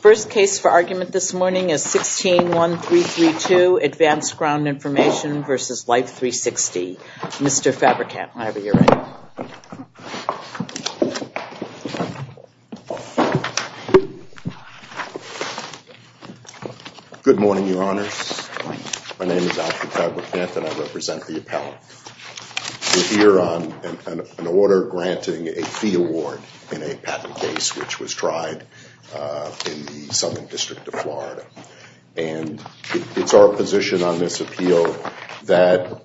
First case for argument this morning is 161332, Advanced Ground Information v. Life360. Mr. Fabrikant, I have a hearing. Good morning, Your Honors. My name is Alfred Fabrikant and I represent the appellant. We're here on an order granting a fee award in a patent case. This is a case which was tried in the Southern District of Florida. And it's our position on this appeal that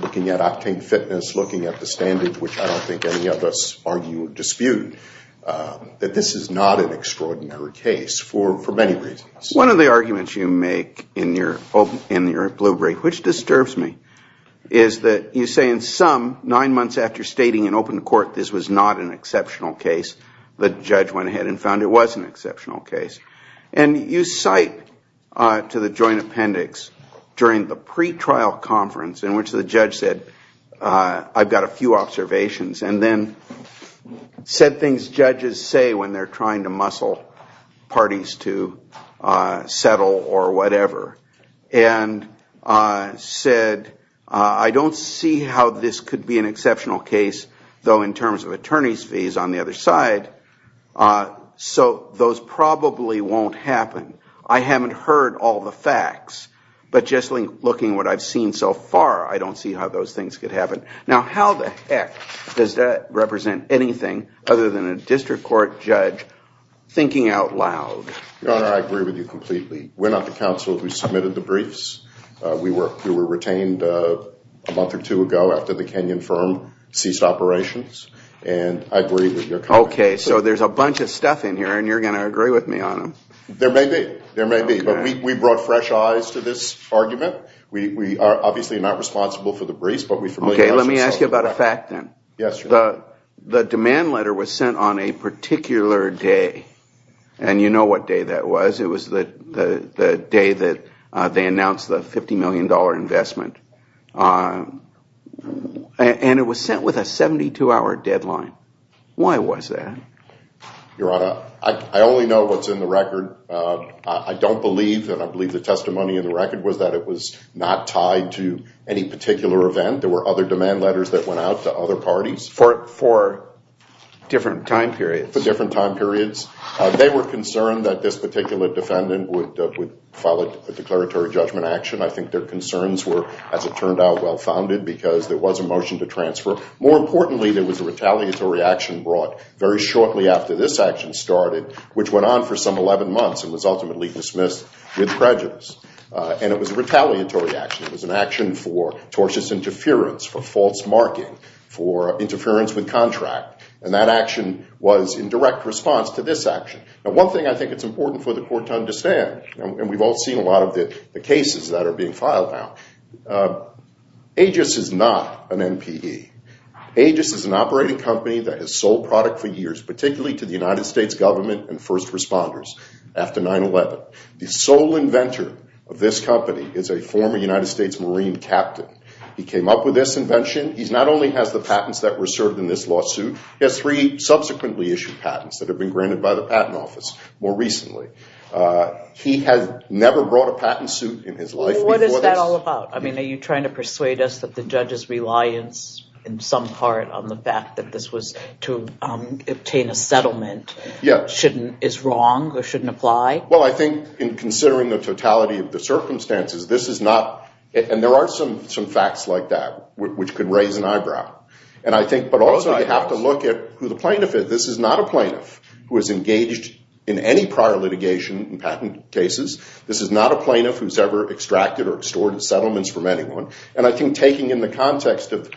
looking at octane fitness, looking at the standard, which I don't think any of us argue or dispute, that this is not an extraordinary case for many reasons. One of the arguments you make in your blue brief, which disturbs me, is that you say in sum, nine months after stating in open court this was not an exceptional case, the judge went ahead and found it was an exceptional case. And you cite to the joint appendix during the pretrial conference in which the judge said, I've got a few observations, and then said things judges say when they're trying to muscle parties to settle or whatever. And said, I don't see how this could be an exceptional case, though in terms of attorney's fees on the other side. So those probably won't happen. I haven't heard all the facts. But just looking at what I've seen so far, I don't see how those things could happen. Now, how the heck does that represent anything other than a district court judge thinking out loud? Your Honor, I agree with you completely. We're not the counsel who submitted the briefs. We were retained a month or two ago after the Kenyon firm ceased operations. And I agree with your comment. Okay, so there's a bunch of stuff in here, and you're going to agree with me on them. There may be. There may be. But we brought fresh eyes to this argument. We are obviously not responsible for the briefs. Okay, let me ask you about a fact then. The demand letter was sent on a particular day. And you know what day that was. It was the day that they announced the $50 million investment. And it was sent with a 72-hour deadline. Why was that? Your Honor, I only know what's in the record. I don't believe, and I believe the testimony in the record was that it was not tied to any particular event. There were other demand letters that went out to other parties. For different time periods. For different time periods. They were concerned that this particular defendant would file a declaratory judgment action. I think their concerns were, as it turned out, well-founded because there was a motion to transfer. More importantly, there was a retaliatory action brought very shortly after this action started, which went on for some 11 months and was ultimately dismissed with prejudice. And it was a retaliatory action. It was an action for tortious interference, for false marking, for interference with contract. And that action was in direct response to this action. Now one thing I think it's important for the court to understand, and we've all seen a lot of the cases that are being filed now, Aegis is not an NPE. Aegis is an operating company that has sold product for years, particularly to the United States government and first responders, after 9-11. The sole inventor of this company is a former United States Marine captain. He came up with this invention. He not only has the patents that were served in this lawsuit, he has three subsequently issued patents that have been granted by the patent office more recently. He has never brought a patent suit in his life. What is that all about? Are you trying to persuade us that the judge's reliance in some part on the fact that this was to obtain a settlement is wrong or shouldn't apply? Well, I think in considering the totality of the circumstances, this is not, and there are some facts like that, which could raise an eyebrow. But also you have to look at who the plaintiff is. This is not a plaintiff who has engaged in any prior litigation in patent cases. This is not a plaintiff who's ever extracted or extorted settlements from anyone. And I think taking in the context of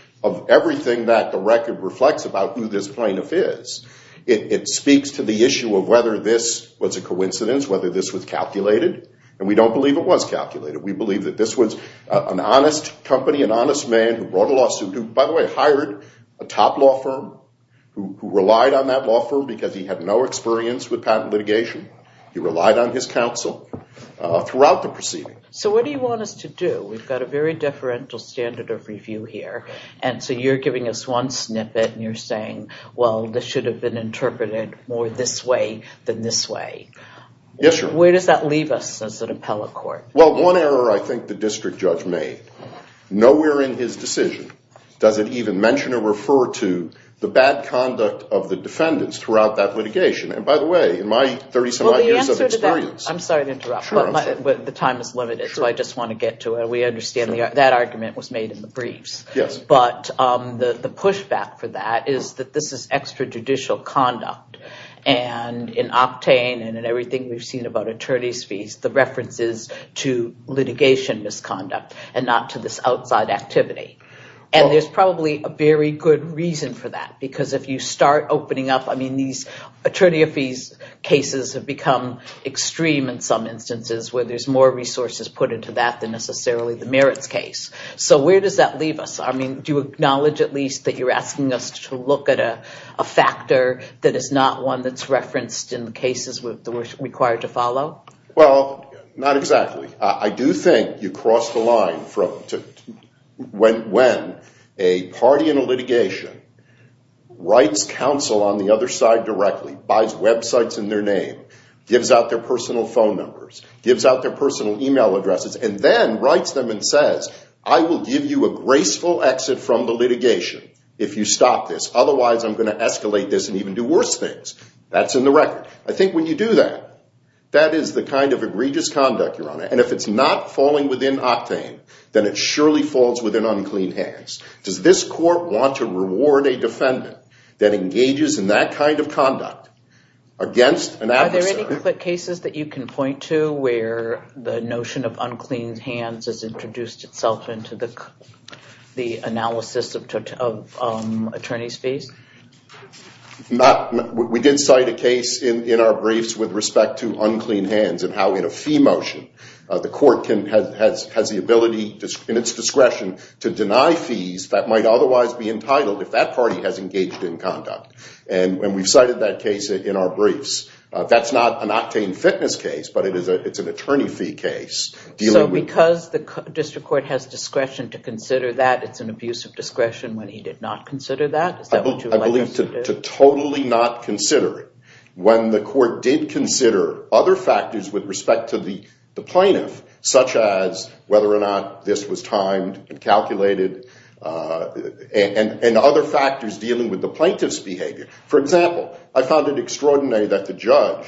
everything that the record reflects about who this plaintiff is, it speaks to the issue of whether this was a coincidence, whether this was calculated, and we don't believe it was calculated. We believe that this was an honest company, an honest man who brought a lawsuit, who, by the way, hired a top law firm, who relied on that law firm because he had no experience with patent litigation. He relied on his counsel throughout the proceeding. So what do you want us to do? We've got a very deferential standard of review here, and so you're giving us one snippet and you're saying, well, this should have been interpreted more this way than this way. Yes, sir. Where does that leave us as an appellate court? Well, one error I think the district judge made, nowhere in his decision does it even mention or refer to the bad conduct of the defendants throughout that litigation. I'm sorry to interrupt, but the time is limited, so I just want to get to it. We understand that argument was made in the briefs. But the pushback for that is that this is extrajudicial conduct, and in Octane and in everything we've seen about attorney's fees, the reference is to litigation misconduct and not to this outside activity. And there's probably a very good reason for that, because if you start opening up, I mean, attorney fees cases have become extreme in some instances where there's more resources put into that than necessarily the merits case. So where does that leave us? I mean, do you acknowledge at least that you're asking us to look at a factor that is not one that's referenced in the cases that we're required to follow? Well, not exactly. I do think you cross the line when a party in a litigation writes counsel on the other side directly, buys websites in their name, gives out their personal phone numbers, gives out their personal email addresses, and then writes them and says, I will give you a graceful exit from the litigation if you stop this. Otherwise, I'm going to escalate this and even do worse things. That's in the record. I think when you do that, that is the kind of egregious conduct, Your Honor. And if it's not falling within Octane, then it surely falls within unclean hands. Does this court want to reward a defendant that engages in that kind of conduct against an adversary? Are there any cases that you can point to where the notion of unclean hands has introduced itself into the analysis of attorneys' fees? We did cite a case in our briefs with respect to unclean hands and how in a fee motion, the court has the ability in its discretion to deny fees that might otherwise be entitled if that party has engaged in conduct. And we've cited that case in our briefs. That's not an Octane Fitness case, but it's an attorney fee case. So because the district court has discretion to consider that, it's an abuse of discretion when he did not consider that? I believe to totally not consider it when the court did consider other factors with respect to the plaintiff, such as whether or not this was timed and calculated and other factors dealing with the plaintiff's behavior. For example, I found it extraordinary that the judge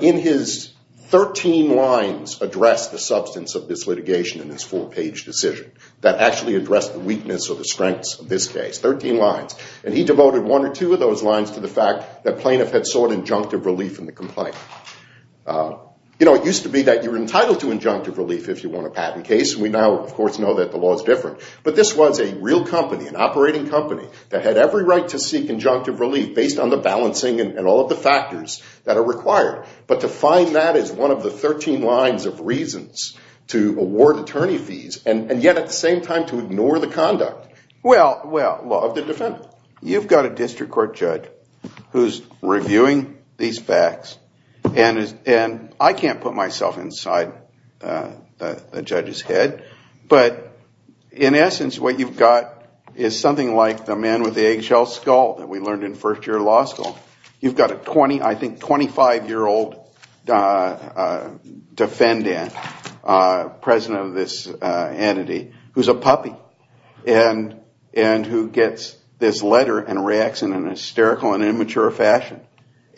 in his 13 lines addressed the substance of this litigation in this four-page decision that actually addressed the weakness or the strengths of this case, 13 lines. And he devoted one or two of those lines to the fact that plaintiff had sought injunctive relief in the complaint. It used to be that you were entitled to injunctive relief if you won a patent case. We now, of course, know that the law is different. But this was a real company, an operating company, that had every right to seek injunctive relief based on the balancing and all of the factors that are required. But to find that is one of the 13 lines of reasons to award attorney fees and yet at the same time to ignore the conduct of the defendant. So you've got a district court judge who's reviewing these facts. And I can't put myself inside the judge's head. But in essence, what you've got is something like the man with the eggshell skull that we learned in first year law school. You've got a 20, I think, 25-year-old defendant, president of this entity, who's a puppy. And who gets this letter and reacts in an hysterical and immature fashion.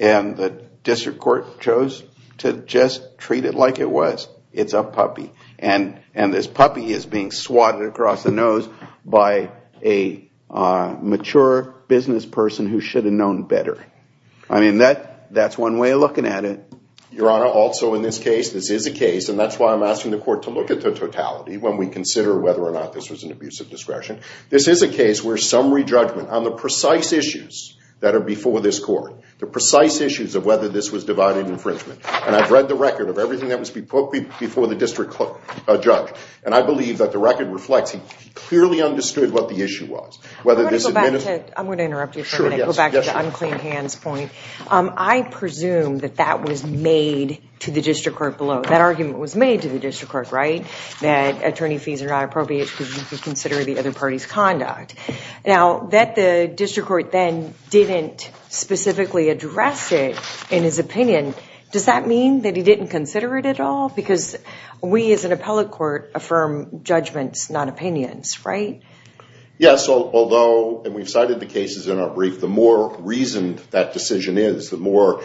And the district court chose to just treat it like it was. It's a puppy. And this puppy is being swatted across the nose by a mature business person who should have known better. I mean, that's one way of looking at it. Your Honor, also in this case, this is a case, and that's why I'm asking the court to look at the totality when we consider whether or not this was an abuse of discretion. This is a case where summary judgment on the precise issues that are before this court, the precise issues of whether this was divided infringement. And I've read the record of everything that was before the district court judge. And I believe that the record reflects he clearly understood what the issue was. I'm going to interrupt you for a minute and go back to the unclean hands point. I presume that that was made to the district court below. That argument was made to the district court, right? That attorney fees are not appropriate because you could consider the other party's conduct. Now, that the district court then didn't specifically address it in his opinion, does that mean that he didn't consider it at all? Because we as an appellate court affirm judgments, not opinions, right? Yes, although, and we've cited the cases in our brief, the more reasoned that decision is, the more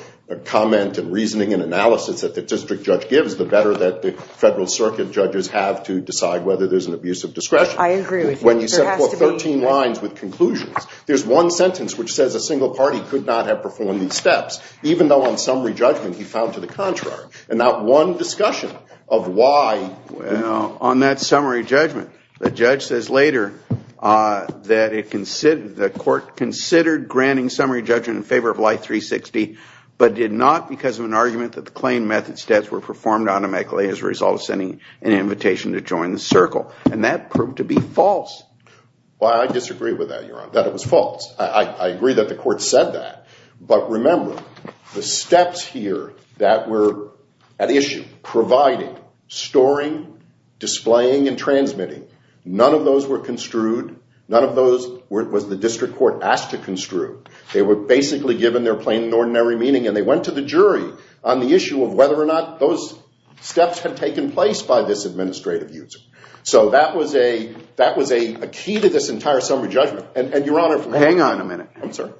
comment and reasoning and analysis that the district judge gives, the better that the federal circuit judges have to decide whether there's an abuse of discretion. I agree with you. When you set forth 13 lines with conclusions, there's one sentence which says a single party could not have performed these steps, even though on summary judgment, he found to the contrary. And that one discussion of why. Well, on that summary judgment, the judge says later that the court considered granting summary judgment in favor of life 360, but did not because of an argument that the claim methods debts were performed automatically as a result of sending an invitation to join the circle. And that proved to be false. Well, I disagree with that, Your Honor, that it was false. I agree that the court said that. But remember, the steps here that were at issue, providing, storing, displaying, and transmitting, none of those were construed, none of those was the district court asked to construe. They were basically given their plain and ordinary meaning, and they went to the jury on the issue of whether or not those steps had taken place by this administrative user. So that was a key to this entire summary judgment. Hang on a minute. Yes, sir.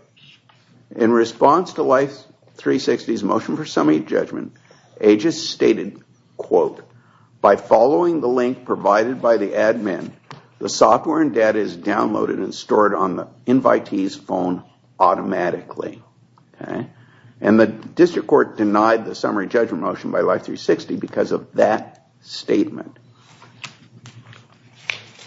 In response to life 360's motion for summary judgment, Aegis stated, quote, by following the link provided by the admin, the software and data is downloaded and stored on the invitee's phone automatically. And the district court denied the summary judgment motion by life 360 because of that statement.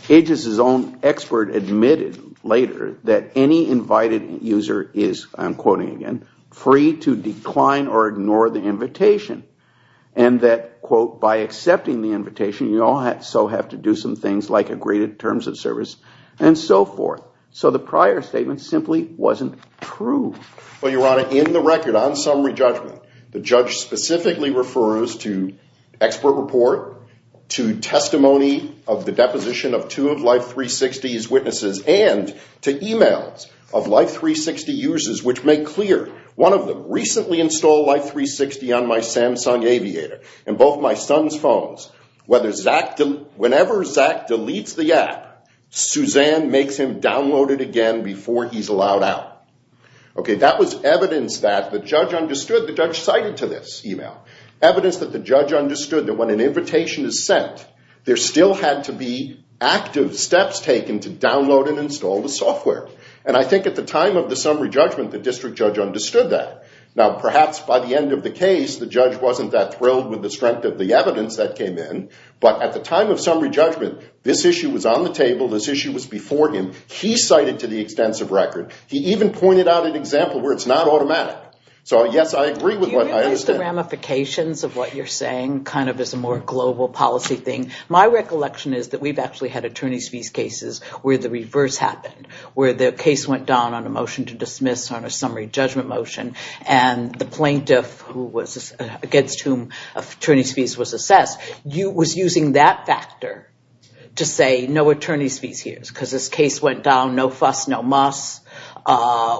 Aegis's own expert admitted later that any invited user is, I'm quoting again, free to decline or ignore the invitation. And that, quote, by accepting the invitation, you also have to do some things like agree to terms of service and so forth. So the prior statement simply wasn't true. Well, Your Honor, in the record on summary judgment, the judge specifically refers to expert report, to testimony of the deposition of two of life 360's witnesses, and to e-mails of life 360 users which make clear one of them recently installed life 360 on my Samsung aviator and both my son's phones. Whenever Zach deletes the app, Suzanne makes him download it again before he's allowed out. OK, that was evidence that the judge understood. The judge cited to this e-mail evidence that the judge understood that when an invitation is sent, there still had to be active steps taken to download and install the software. And I think at the time of the summary judgment, the district judge understood that. Now, perhaps by the end of the case, the judge wasn't that thrilled with the strength of the evidence that came in. But at the time of summary judgment, this issue was on the table. This issue was before him. He cited to the extensive record. He even pointed out an example where it's not automatic. So, yes, I agree with what I understand. Do you realize the ramifications of what you're saying kind of as a more global policy thing? My recollection is that we've actually had attorney's fees cases where the reverse happened. Where the case went down on a motion to dismiss on a summary judgment motion. And the plaintiff against whom attorney's fees was assessed was using that factor to say no attorney's fees here. Because this case went down, no fuss, no muss.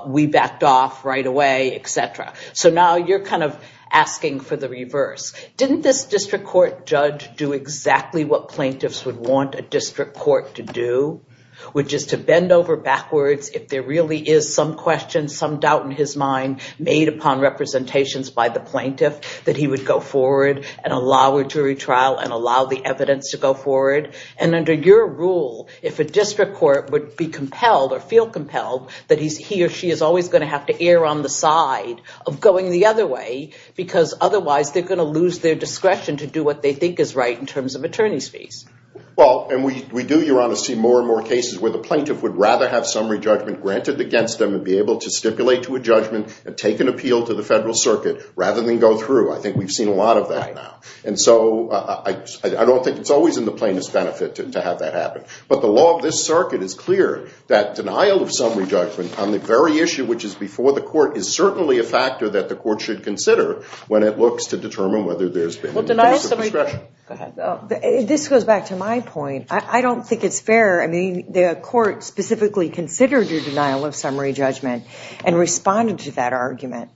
We backed off right away, et cetera. So now you're kind of asking for the reverse. Didn't this district court judge do exactly what plaintiffs would want a district court to do? Which is to bend over backwards if there really is some question, some doubt in his mind made upon representations by the plaintiff. That he would go forward and allow a jury trial and allow the evidence to go forward. And under your rule, if a district court would be compelled or feel compelled that he or she is always going to have to err on the side of going the other way. Because otherwise they're going to lose their discretion to do what they think is right in terms of attorney's fees. Well, and we do, Your Honor, see more and more cases where the plaintiff would rather have summary judgment granted against them. And be able to stipulate to a judgment and take an appeal to the federal circuit rather than go through. I think we've seen a lot of that now. And so I don't think it's always in the plaintiff's benefit to have that happen. But the law of this circuit is clear that denial of summary judgment on the very issue which is before the court is certainly a factor that the court should consider when it looks to determine whether there's been a case of discretion. This goes back to my point. I don't think it's fair. I mean, the court specifically considered your denial of summary judgment and responded to that argument.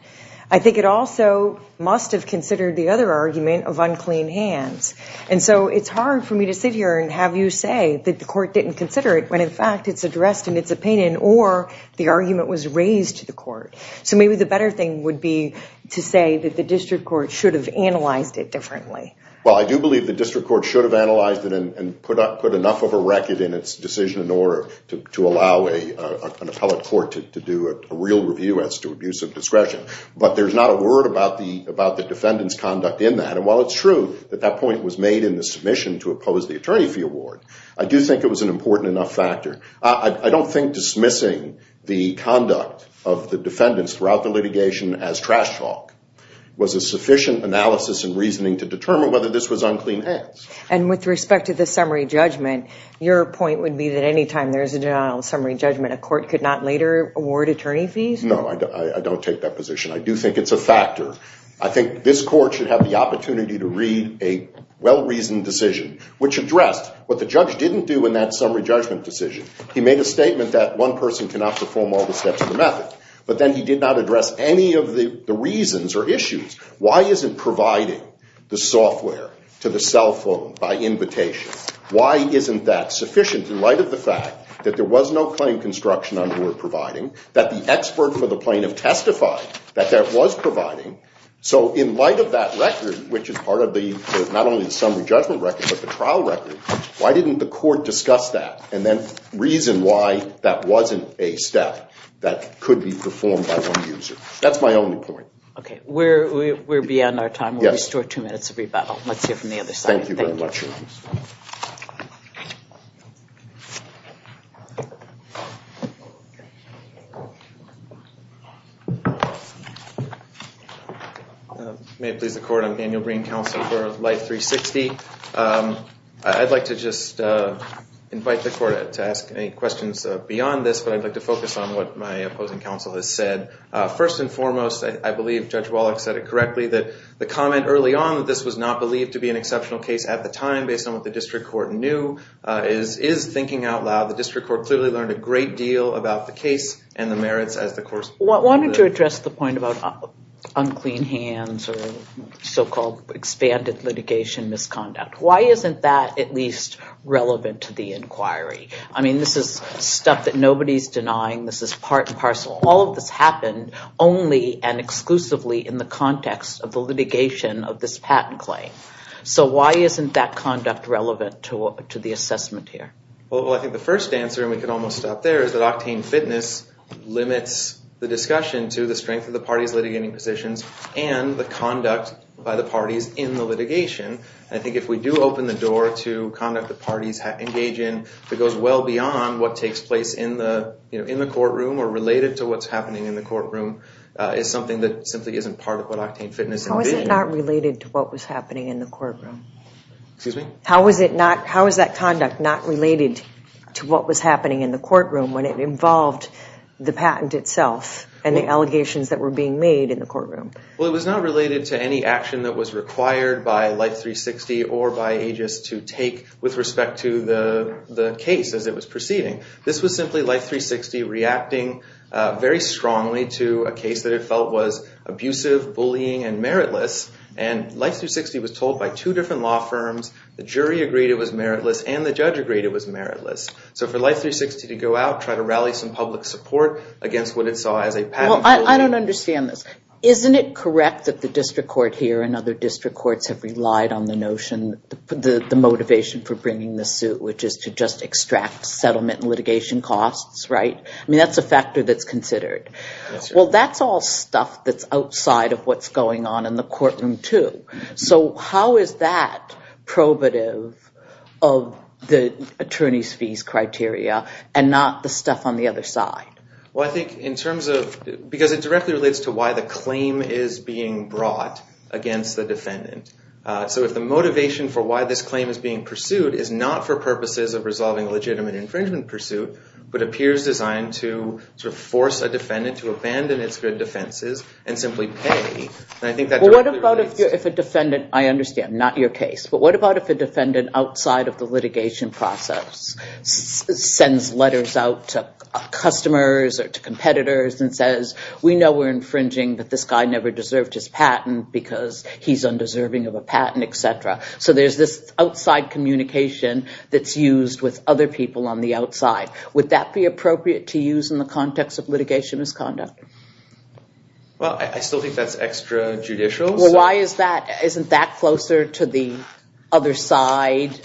I think it also must have considered the other argument of unclean hands. And so it's hard for me to sit here and have you say that the court didn't consider it when, in fact, it's addressed and it's opinioned or the argument was raised to the court. So maybe the better thing would be to say that the district court should have analyzed it differently. Well, I do believe the district court should have analyzed it and put enough of a record in its decision in order to allow an appellate court to do a real review as to abuse of discretion. But there's not a word about the defendant's conduct in that. And while it's true that that point was made in the submission to oppose the attorney fee award, I do think it was an important enough factor. I don't think dismissing the conduct of the defendants throughout the litigation as trash talk was a sufficient analysis and reasoning to determine whether this was unclean hands. And with respect to the summary judgment, your point would be that any time there's a denial of summary judgment, a court could not later award attorney fees? No, I don't take that position. I do think it's a factor. I think this court should have the opportunity to read a well-reasoned decision, which addressed what the judge didn't do in that summary judgment decision. He made a statement that one person cannot perform all the steps of the method, but then he did not address any of the reasons or issues. Why isn't providing the software to the cell phone by invitation? Why isn't that sufficient in light of the fact that there was no claim construction on the word providing, that the expert for the plaintiff testified that that was providing? So in light of that record, which is part of not only the summary judgment record, but the trial record, why didn't the court discuss that and then reason why that wasn't a step that could be performed by one user? That's my only point. Okay. We're beyond our time. We'll restore two minutes of rebuttal. Let's hear from the other side. Thank you. Thank you very much. May it please the court. I'm Daniel Green, counsel for Light 360. I'd like to just invite the court to ask any questions beyond this, but I'd like to focus on what my opposing counsel has said. First and foremost, I believe Judge Wallach said it correctly, that the comment early on that this was not believed to be an exceptional case at the time, based on what the district court knew, is thinking out loud. The district court clearly learned a great deal about the case and the merits as the court... I wanted to address the point about unclean hands or so-called expanded litigation misconduct. Why isn't that at least relevant to the inquiry? I mean, this is stuff that nobody's denying. This is part and parcel. All of this happened only and exclusively in the context of the litigation of this patent claim. So why isn't that conduct relevant to the assessment here? Well, I think the first answer, and we can almost stop there, is that octane fitness limits the discussion to the strength of the party's litigating positions and the conduct by the parties in the litigation. I think if we do open the door to conduct the parties engage in that goes well beyond what takes place in the courtroom or related to what's happening in the courtroom is something that simply isn't part of what octane fitness... How is it not related to what was happening in the courtroom? Excuse me? How is that conduct not related to what was happening in the courtroom when it involved the patent itself and the allegations that were being made in the courtroom? Well, it was not related to any action that was required by Life 360 or by AGIS to take with respect to the case as it was proceeding. This was simply Life 360 reacting very strongly to a case that it felt was abusive, bullying, and meritless. And Life 360 was told by two different law firms, the jury agreed it was meritless and the judge agreed it was meritless. So for Life 360 to go out, try to rally some public support against what it saw as a patent... I don't understand this. Isn't it correct that the district court here and other district courts have relied on the notion, the motivation for bringing the suit, which is to just extract settlement litigation costs, right? I mean, that's a factor that's considered. Well, that's all stuff that's outside of what's going on in the courtroom too. So how is that probative of the attorney's fees criteria and not the stuff on the other side? Well, I think in terms of, because it directly relates to why the claim is being brought against the defendant. So if the motivation for why this claim is being pursued is not for purposes of resolving a legitimate infringement pursuit, but appears designed to sort of force a defendant to abandon its good defenses and simply pay. I understand, not your case, but what about if a defendant outside of the litigation process sends letters out to customers or to competitors and says, we know we're infringing, but this guy never deserved his patent because he's undeserving of a patent, etc. So there's this outside communication that's used with other people on the outside. Would that be appropriate to use in the context of litigation misconduct? Well, I still think that's extrajudicial. Well, why is that? Isn't that closer to the other side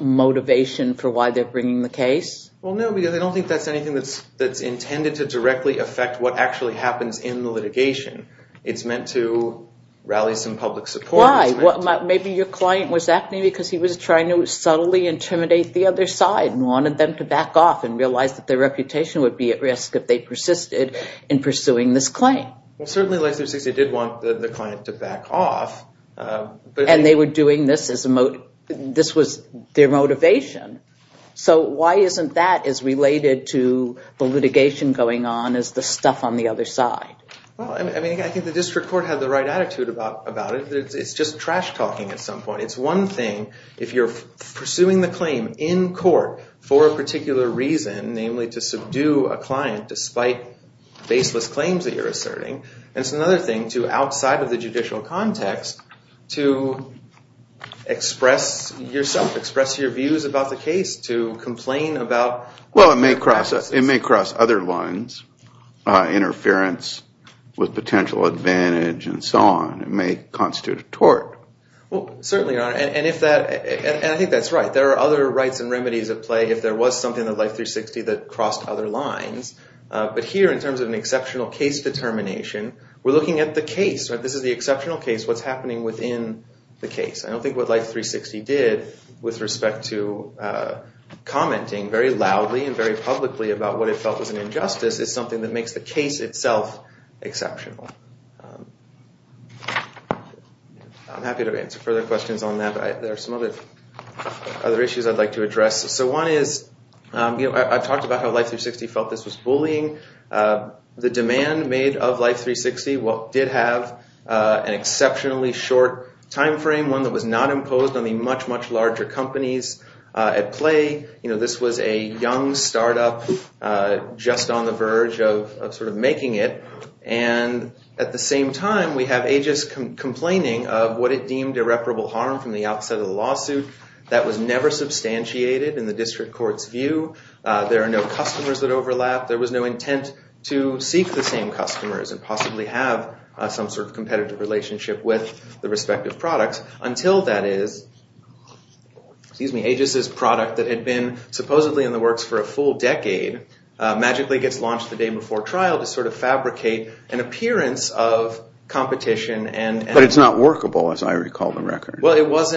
motivation for why they're bringing the case? Well, no, because I don't think that's anything that's intended to directly affect what actually happens in the litigation. It's meant to rally some public support. Why? Maybe your client was acting because he was trying to subtly intimidate the other side and wanted them to back off and realize that their reputation would be at risk if they persisted in pursuing this claim. Well, certainly Legislative Safety did want the client to back off. And they were doing this as a motive. This was their motivation. So why isn't that as related to the litigation going on as the stuff on the other side? Well, I mean, I think the district court had the right attitude about it. It's just trash talking at some point. It's one thing if you're pursuing the claim in court for a particular reason, namely to subdue a client despite baseless claims that you're asserting. And it's another thing to, outside of the judicial context, to express yourself, express your views about the case, to complain about- Well, it may cross other lines, interference with potential advantage and so on. It may constitute a tort. Well, certainly not. And I think that's right. There are other rights and remedies at play if there was something in Life 360 that crossed other lines. But here, in terms of an exceptional case determination, we're looking at the case. This is the exceptional case, what's happening within the case. I don't think what Life 360 did with respect to commenting very loudly and very publicly about what it felt was an injustice is something that makes the case itself exceptional. I'm happy to answer further questions on that. There are some other issues I'd like to address. So one is, I've talked about how Life 360 felt this was bullying. The demand made of Life 360 did have an exceptionally short time frame, one that was not imposed on the much, much larger companies at play. This was a young startup just on the verge of making it. And at the same time, we have Aegis complaining of what it deemed irreparable harm from the outset of the lawsuit. That was never substantiated in the district court's view. There are no customers that overlap. There was no intent to seek the same customers and possibly have some sort of competitive relationship with the respective products. Until, that is, Aegis' product that had been supposedly in the works for a full decade magically gets launched the day before trial to sort of fabricate an appearance of competition. But it's not workable, as I recall the record. Well, it was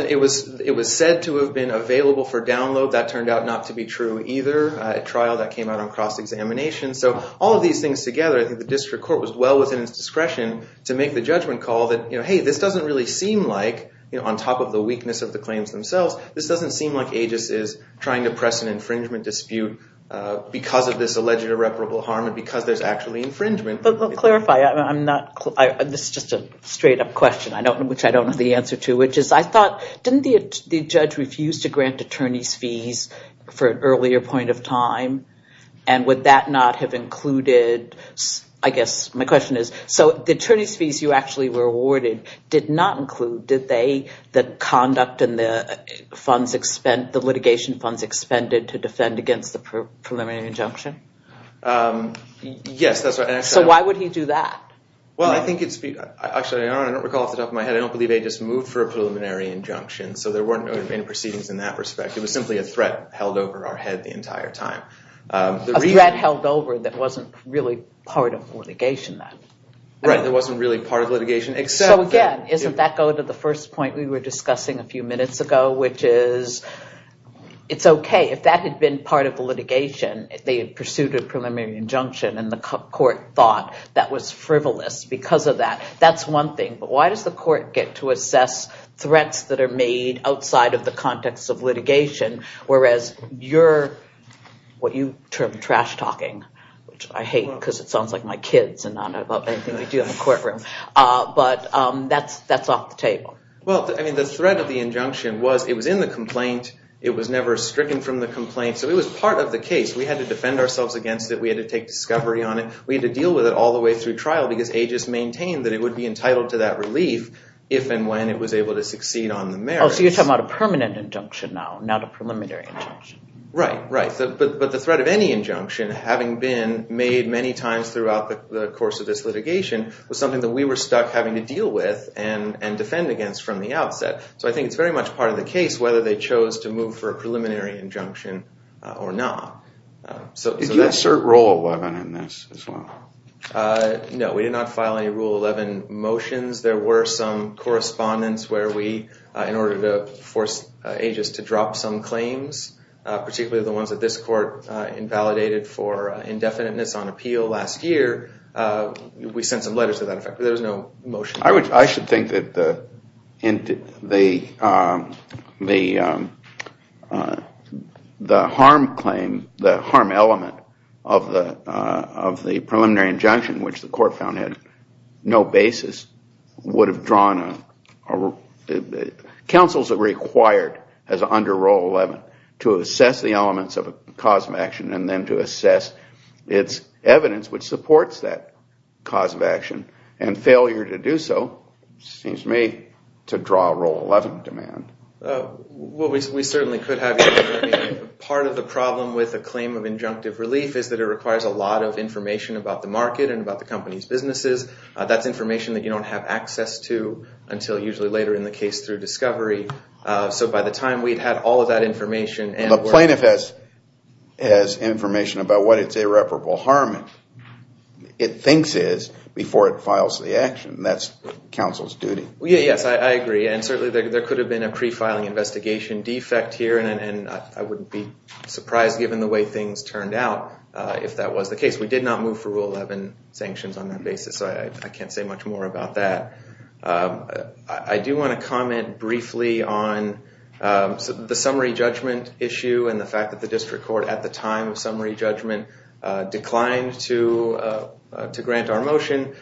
said to have been available for download. That turned out not to be true either. At trial, that came out on cross-examination. So all of these things together, I think the district court was well within its discretion to make the judgment call that, hey, this doesn't really seem like, on top of the weakness of the claims themselves, this doesn't seem like Aegis is trying to press an infringement dispute because of this alleged irreparable harm and because there's actually infringement. This is just a straight-up question, which I don't know the answer to, which is, I thought, didn't the judge refuse to grant attorney's fees for an earlier point of time? And would that not have included, I guess my question is, so the attorney's fees you actually were awarded did not include, did they, the conduct and the litigation funds expended to defend against the preliminary injunction? Yes, that's right. So why would he do that? Well, I think it's, actually, I don't recall off the top of my head, I don't believe Aegis moved for a preliminary injunction. So there weren't any proceedings in that respect. It was simply a threat held over our head the entire time. A threat held over that wasn't really part of litigation then. Right, that wasn't really part of litigation, except that... And the court thought that was frivolous because of that. That's one thing, but why does the court get to assess threats that are made outside of the context of litigation, whereas your, what you term trash-talking, which I hate because it sounds like my kids and I don't have anything to do in the courtroom, but that's off the table. Well, I mean, the threat of the injunction was, it was in the complaint, it was never stricken from the complaint, so it was part of the case. We had to defend ourselves against it, we had to take discovery on it, we had to deal with it all the way through trial because Aegis maintained that it would be entitled to that relief if and when it was able to succeed on the merits. Oh, so you're talking about a permanent injunction now, not a preliminary injunction. Right, right. But the threat of any injunction, having been made many times throughout the course of this litigation, was something that we were stuck having to deal with and defend against from the outset. So I think it's very much part of the case whether they chose to move for a preliminary injunction or not. Did you assert Rule 11 in this as well? No, we did not file any Rule 11 motions. There were some correspondence where we, in order to force Aegis to drop some claims, particularly the ones that this court invalidated for indefiniteness on appeal last year, we sent some letters to that effect, but there was no motion. I should think that the harm claim, the harm element of the preliminary injunction, which the court found had no basis, would have drawn a... Well, we certainly could have. Part of the problem with a claim of injunctive relief is that it requires a lot of information about the market and about the company's businesses. That's information that you don't have access to until usually later in the case through discovery. So by the time we'd had all of that information... And the plaintiff has information about what its irreparable harm it thinks is before it files the action. That's counsel's duty. Yes, I agree, and certainly there could have been a pre-filing investigation defect here, and I wouldn't be surprised given the way things turned out if that was the case. We did not move for Rule 11 sanctions on that basis, so I can't say much more about that. I do want to comment briefly on the summary judgment issue and the fact that the district court at the time of summary judgment declined to grant our motion.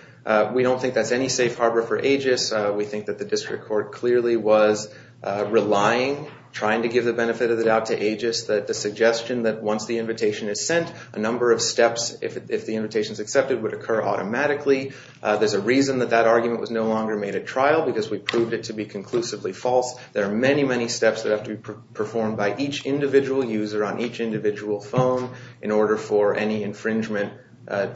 We don't think that's any safe harbor for AGIS. We think that the district court clearly was relying, trying to give the benefit of the doubt to AGIS, the suggestion that once the invitation is sent, a number of steps, if the invitation is accepted, would occur automatically. There's a reason that that argument was no longer made at trial, because we proved it to be conclusively false. There are many, many steps that have to be performed by each individual user on each individual phone in order for any infringement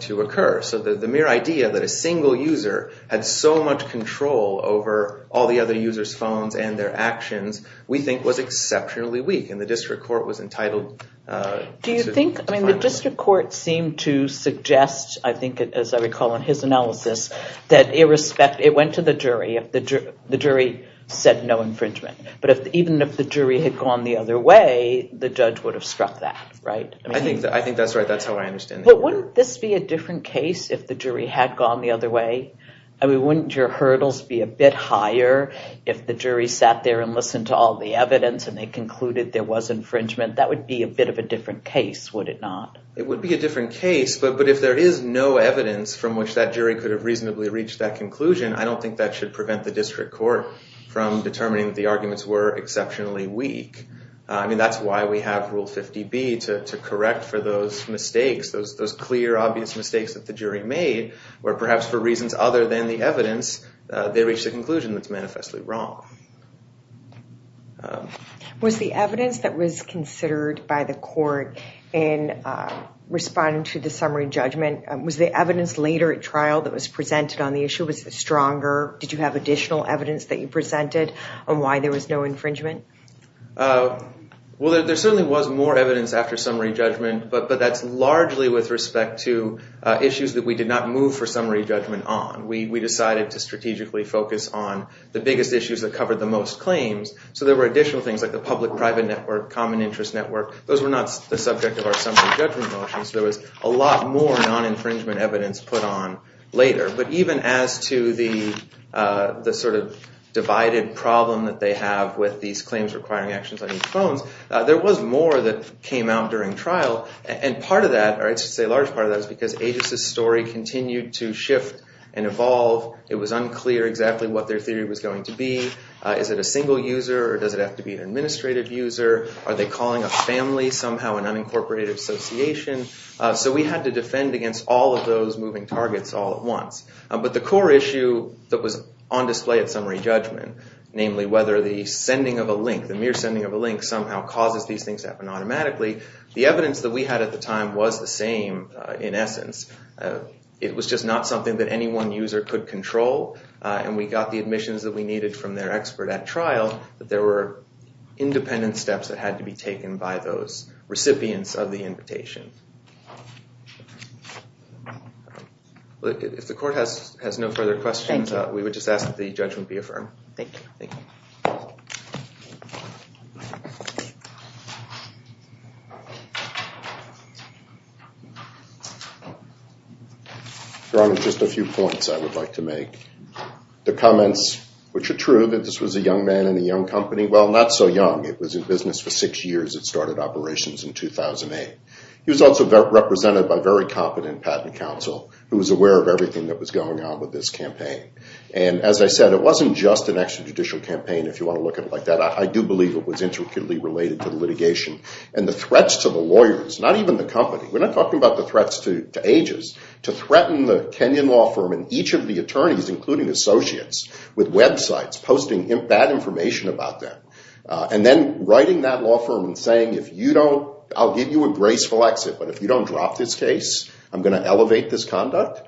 to occur. So the mere idea that a single user had so much control over all the other users' phones and their actions, we think was exceptionally weak, and the district court was entitled to... Do you think, I mean, the district court seemed to suggest, I think, as I recall in his analysis, that it went to the jury if the jury said no infringement, but even if the jury had gone the other way, the judge would have struck that, right? I think that's right. That's how I understand it. But wouldn't this be a different case if the jury had gone the other way? I mean, wouldn't your hurdles be a bit higher if the jury sat there and listened to all the evidence and they concluded there was infringement? That would be a bit of a different case, would it not? It would be a different case, but if there is no evidence from which that jury could have reasonably reached that conclusion, I don't think that should prevent the district court from determining that the arguments were exceptionally weak. I mean, that's why we have Rule 50B, to correct for those mistakes, those clear, obvious mistakes that the jury made, where perhaps for reasons other than the evidence, they reached a conclusion that's manifestly wrong. Was the evidence that was considered by the court in responding to the summary judgment, was the evidence later at trial that was presented on the issue, was it stronger? Did you have additional evidence that you presented on why there was no infringement? Well, there certainly was more evidence after summary judgment, but that's largely with respect to issues that we did not move for summary judgment on. We decided to strategically focus on the biggest issues that covered the most claims. So there were additional things like the public-private network, common interest network. Those were not the subject of our summary judgment motions. There was a lot more non-infringement evidence put on later. But even as to the sort of divided problem that they have with these claims requiring actions on each phone, there was more that came out during trial. And part of that, or I should say a large part of that, is because Aegis' story continued to shift and evolve. It was unclear exactly what their theory was going to be. Is it a single user or does it have to be an administrative user? Are they calling a family somehow, an unincorporated association? So we had to defend against all of those moving targets all at once. But the core issue that was on display at summary judgment, namely whether the sending of a link, the mere sending of a link, somehow causes these things to happen automatically, the evidence that we had at the time was the same in essence. It was just not something that any one user could control. And we got the admissions that we needed from their expert at trial, but there were independent steps that had to be taken by those recipients of the invitation. If the court has no further questions, we would just ask that the judgment be affirmed. Your Honor, just a few points I would like to make. The comments which are true that this was a young man in a young company, well not so young. It was in business for six years. It started operations in 2008. He was also represented by a very competent patent counsel who was aware of everything that was going on with this campaign. And as I said, it wasn't just an extrajudicial campaign if you want to look at it like that. I do believe it was intricately related to litigation and the threats to the lawyers, not even the company, we're not talking about the threats to ages, to threaten the Kenyan law firm and each of the attorneys including associates with websites posting bad information about them. And then writing that law firm and saying, I'll give you a graceful exit, but if you don't drop this case, I'm going to elevate this conduct.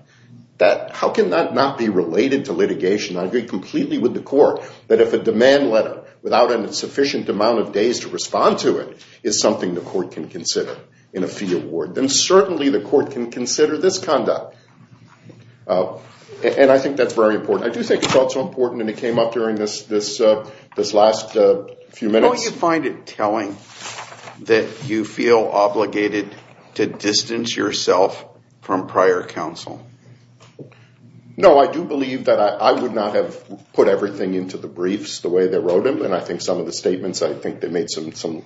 How can that not be related to litigation? I agree completely with the court that if a demand letter without a sufficient amount of days to respond to it is something the court can consider in a fee award, then certainly the court can consider this conduct. And I think that's very important. I do think it's also important and it came up during this last few minutes. How do you find it telling that you feel obligated to distance yourself from prior counsel? No, I do believe that I would not have put everything into the briefs the way they wrote them. And I think some of the statements, I think they made some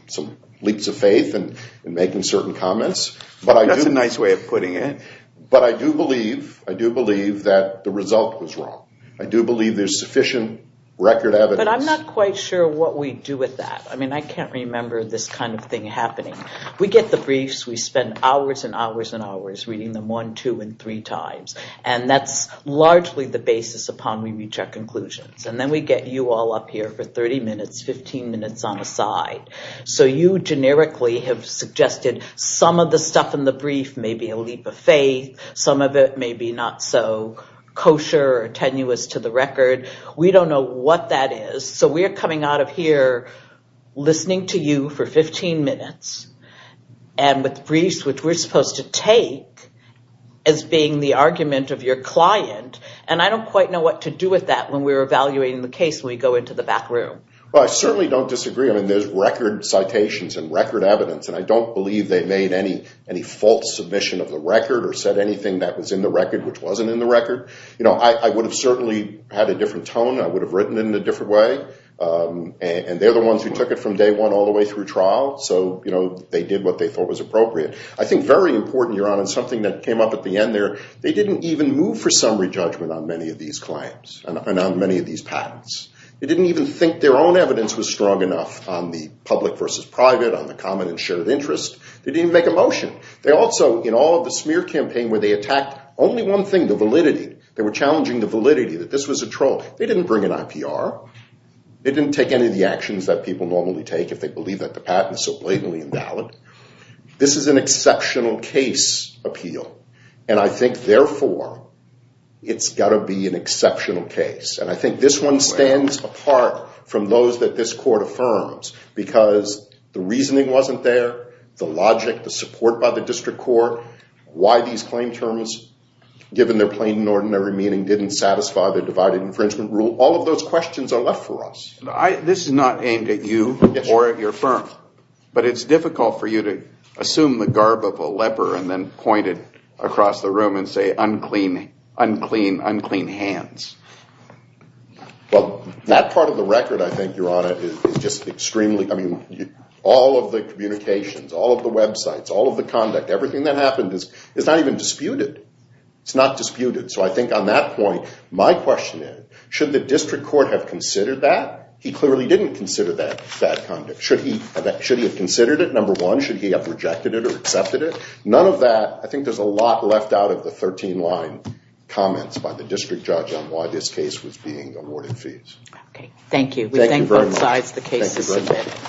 leaps of faith in making certain comments. That's a nice way of putting it. But I do believe that the result was wrong. I do believe there's sufficient record evidence. But I'm not quite sure what we do with that. I mean, I can't remember this kind of thing happening. We get the briefs, we spend hours and hours and hours reading them one, two, and three times. And that's largely the basis upon which we reach our conclusions. And then we get you all up here for 30 minutes, 15 minutes on the side. So you generically have suggested some of the stuff in the brief may be a leap of faith. Some of it may be not so kosher or tenuous to the record. We don't know what that is. So we're coming out of here listening to you for 15 minutes. And with briefs, which we're supposed to take as being the argument of your client. And I don't quite know what to do with that when we're evaluating the case when we go into the back room. Well, I certainly don't disagree. I mean, there's record citations and record evidence. And I don't believe they made any false submission of the record or said anything that was in the record which wasn't in the record. I would have certainly had a different tone. I would have written in a different way. And they're the ones who took it from day one all the way through trial. So they did what they thought was appropriate. I think very important, Your Honor, something that came up at the end there. They didn't even move for summary judgment on many of these claims and on many of these patents. They didn't even think their own evidence was strong enough on the public versus private, on the common and shared interest. They didn't even make a motion. They also, in all of the smear campaign where they attacked only one thing, the validity. They were challenging the validity that this was a troll. They didn't bring an IPR. They didn't take any of the actions that people normally take if they believe that the patent is so blatantly invalid. This is an exceptional case appeal. And I think, therefore, it's got to be an exceptional case. And I think this one stands apart from those that this court affirms. Because the reasoning wasn't there, the logic, the support by the district court, why these claim terms, given their plain and ordinary meaning, didn't satisfy the divided infringement rule. All of those questions are left for us. This is not aimed at you or at your firm. But it's difficult for you to assume the garb of a leper and then point it across the room and say unclean hands. Well, that part of the record, I think, Your Honor, is just extremely, I mean, all of the communications, all of the websites, all of the conduct, everything that happened is not even disputed. It's not disputed. So I think on that point, my question is, should the district court have considered that? He clearly didn't consider that conduct. Should he have considered it, number one? Should he have rejected it or accepted it? None of that, I think there's a lot left out of the 13-line comments by the district judge on why this case was being awarded fees. Okay, thank you. We thank both sides of the case to submit.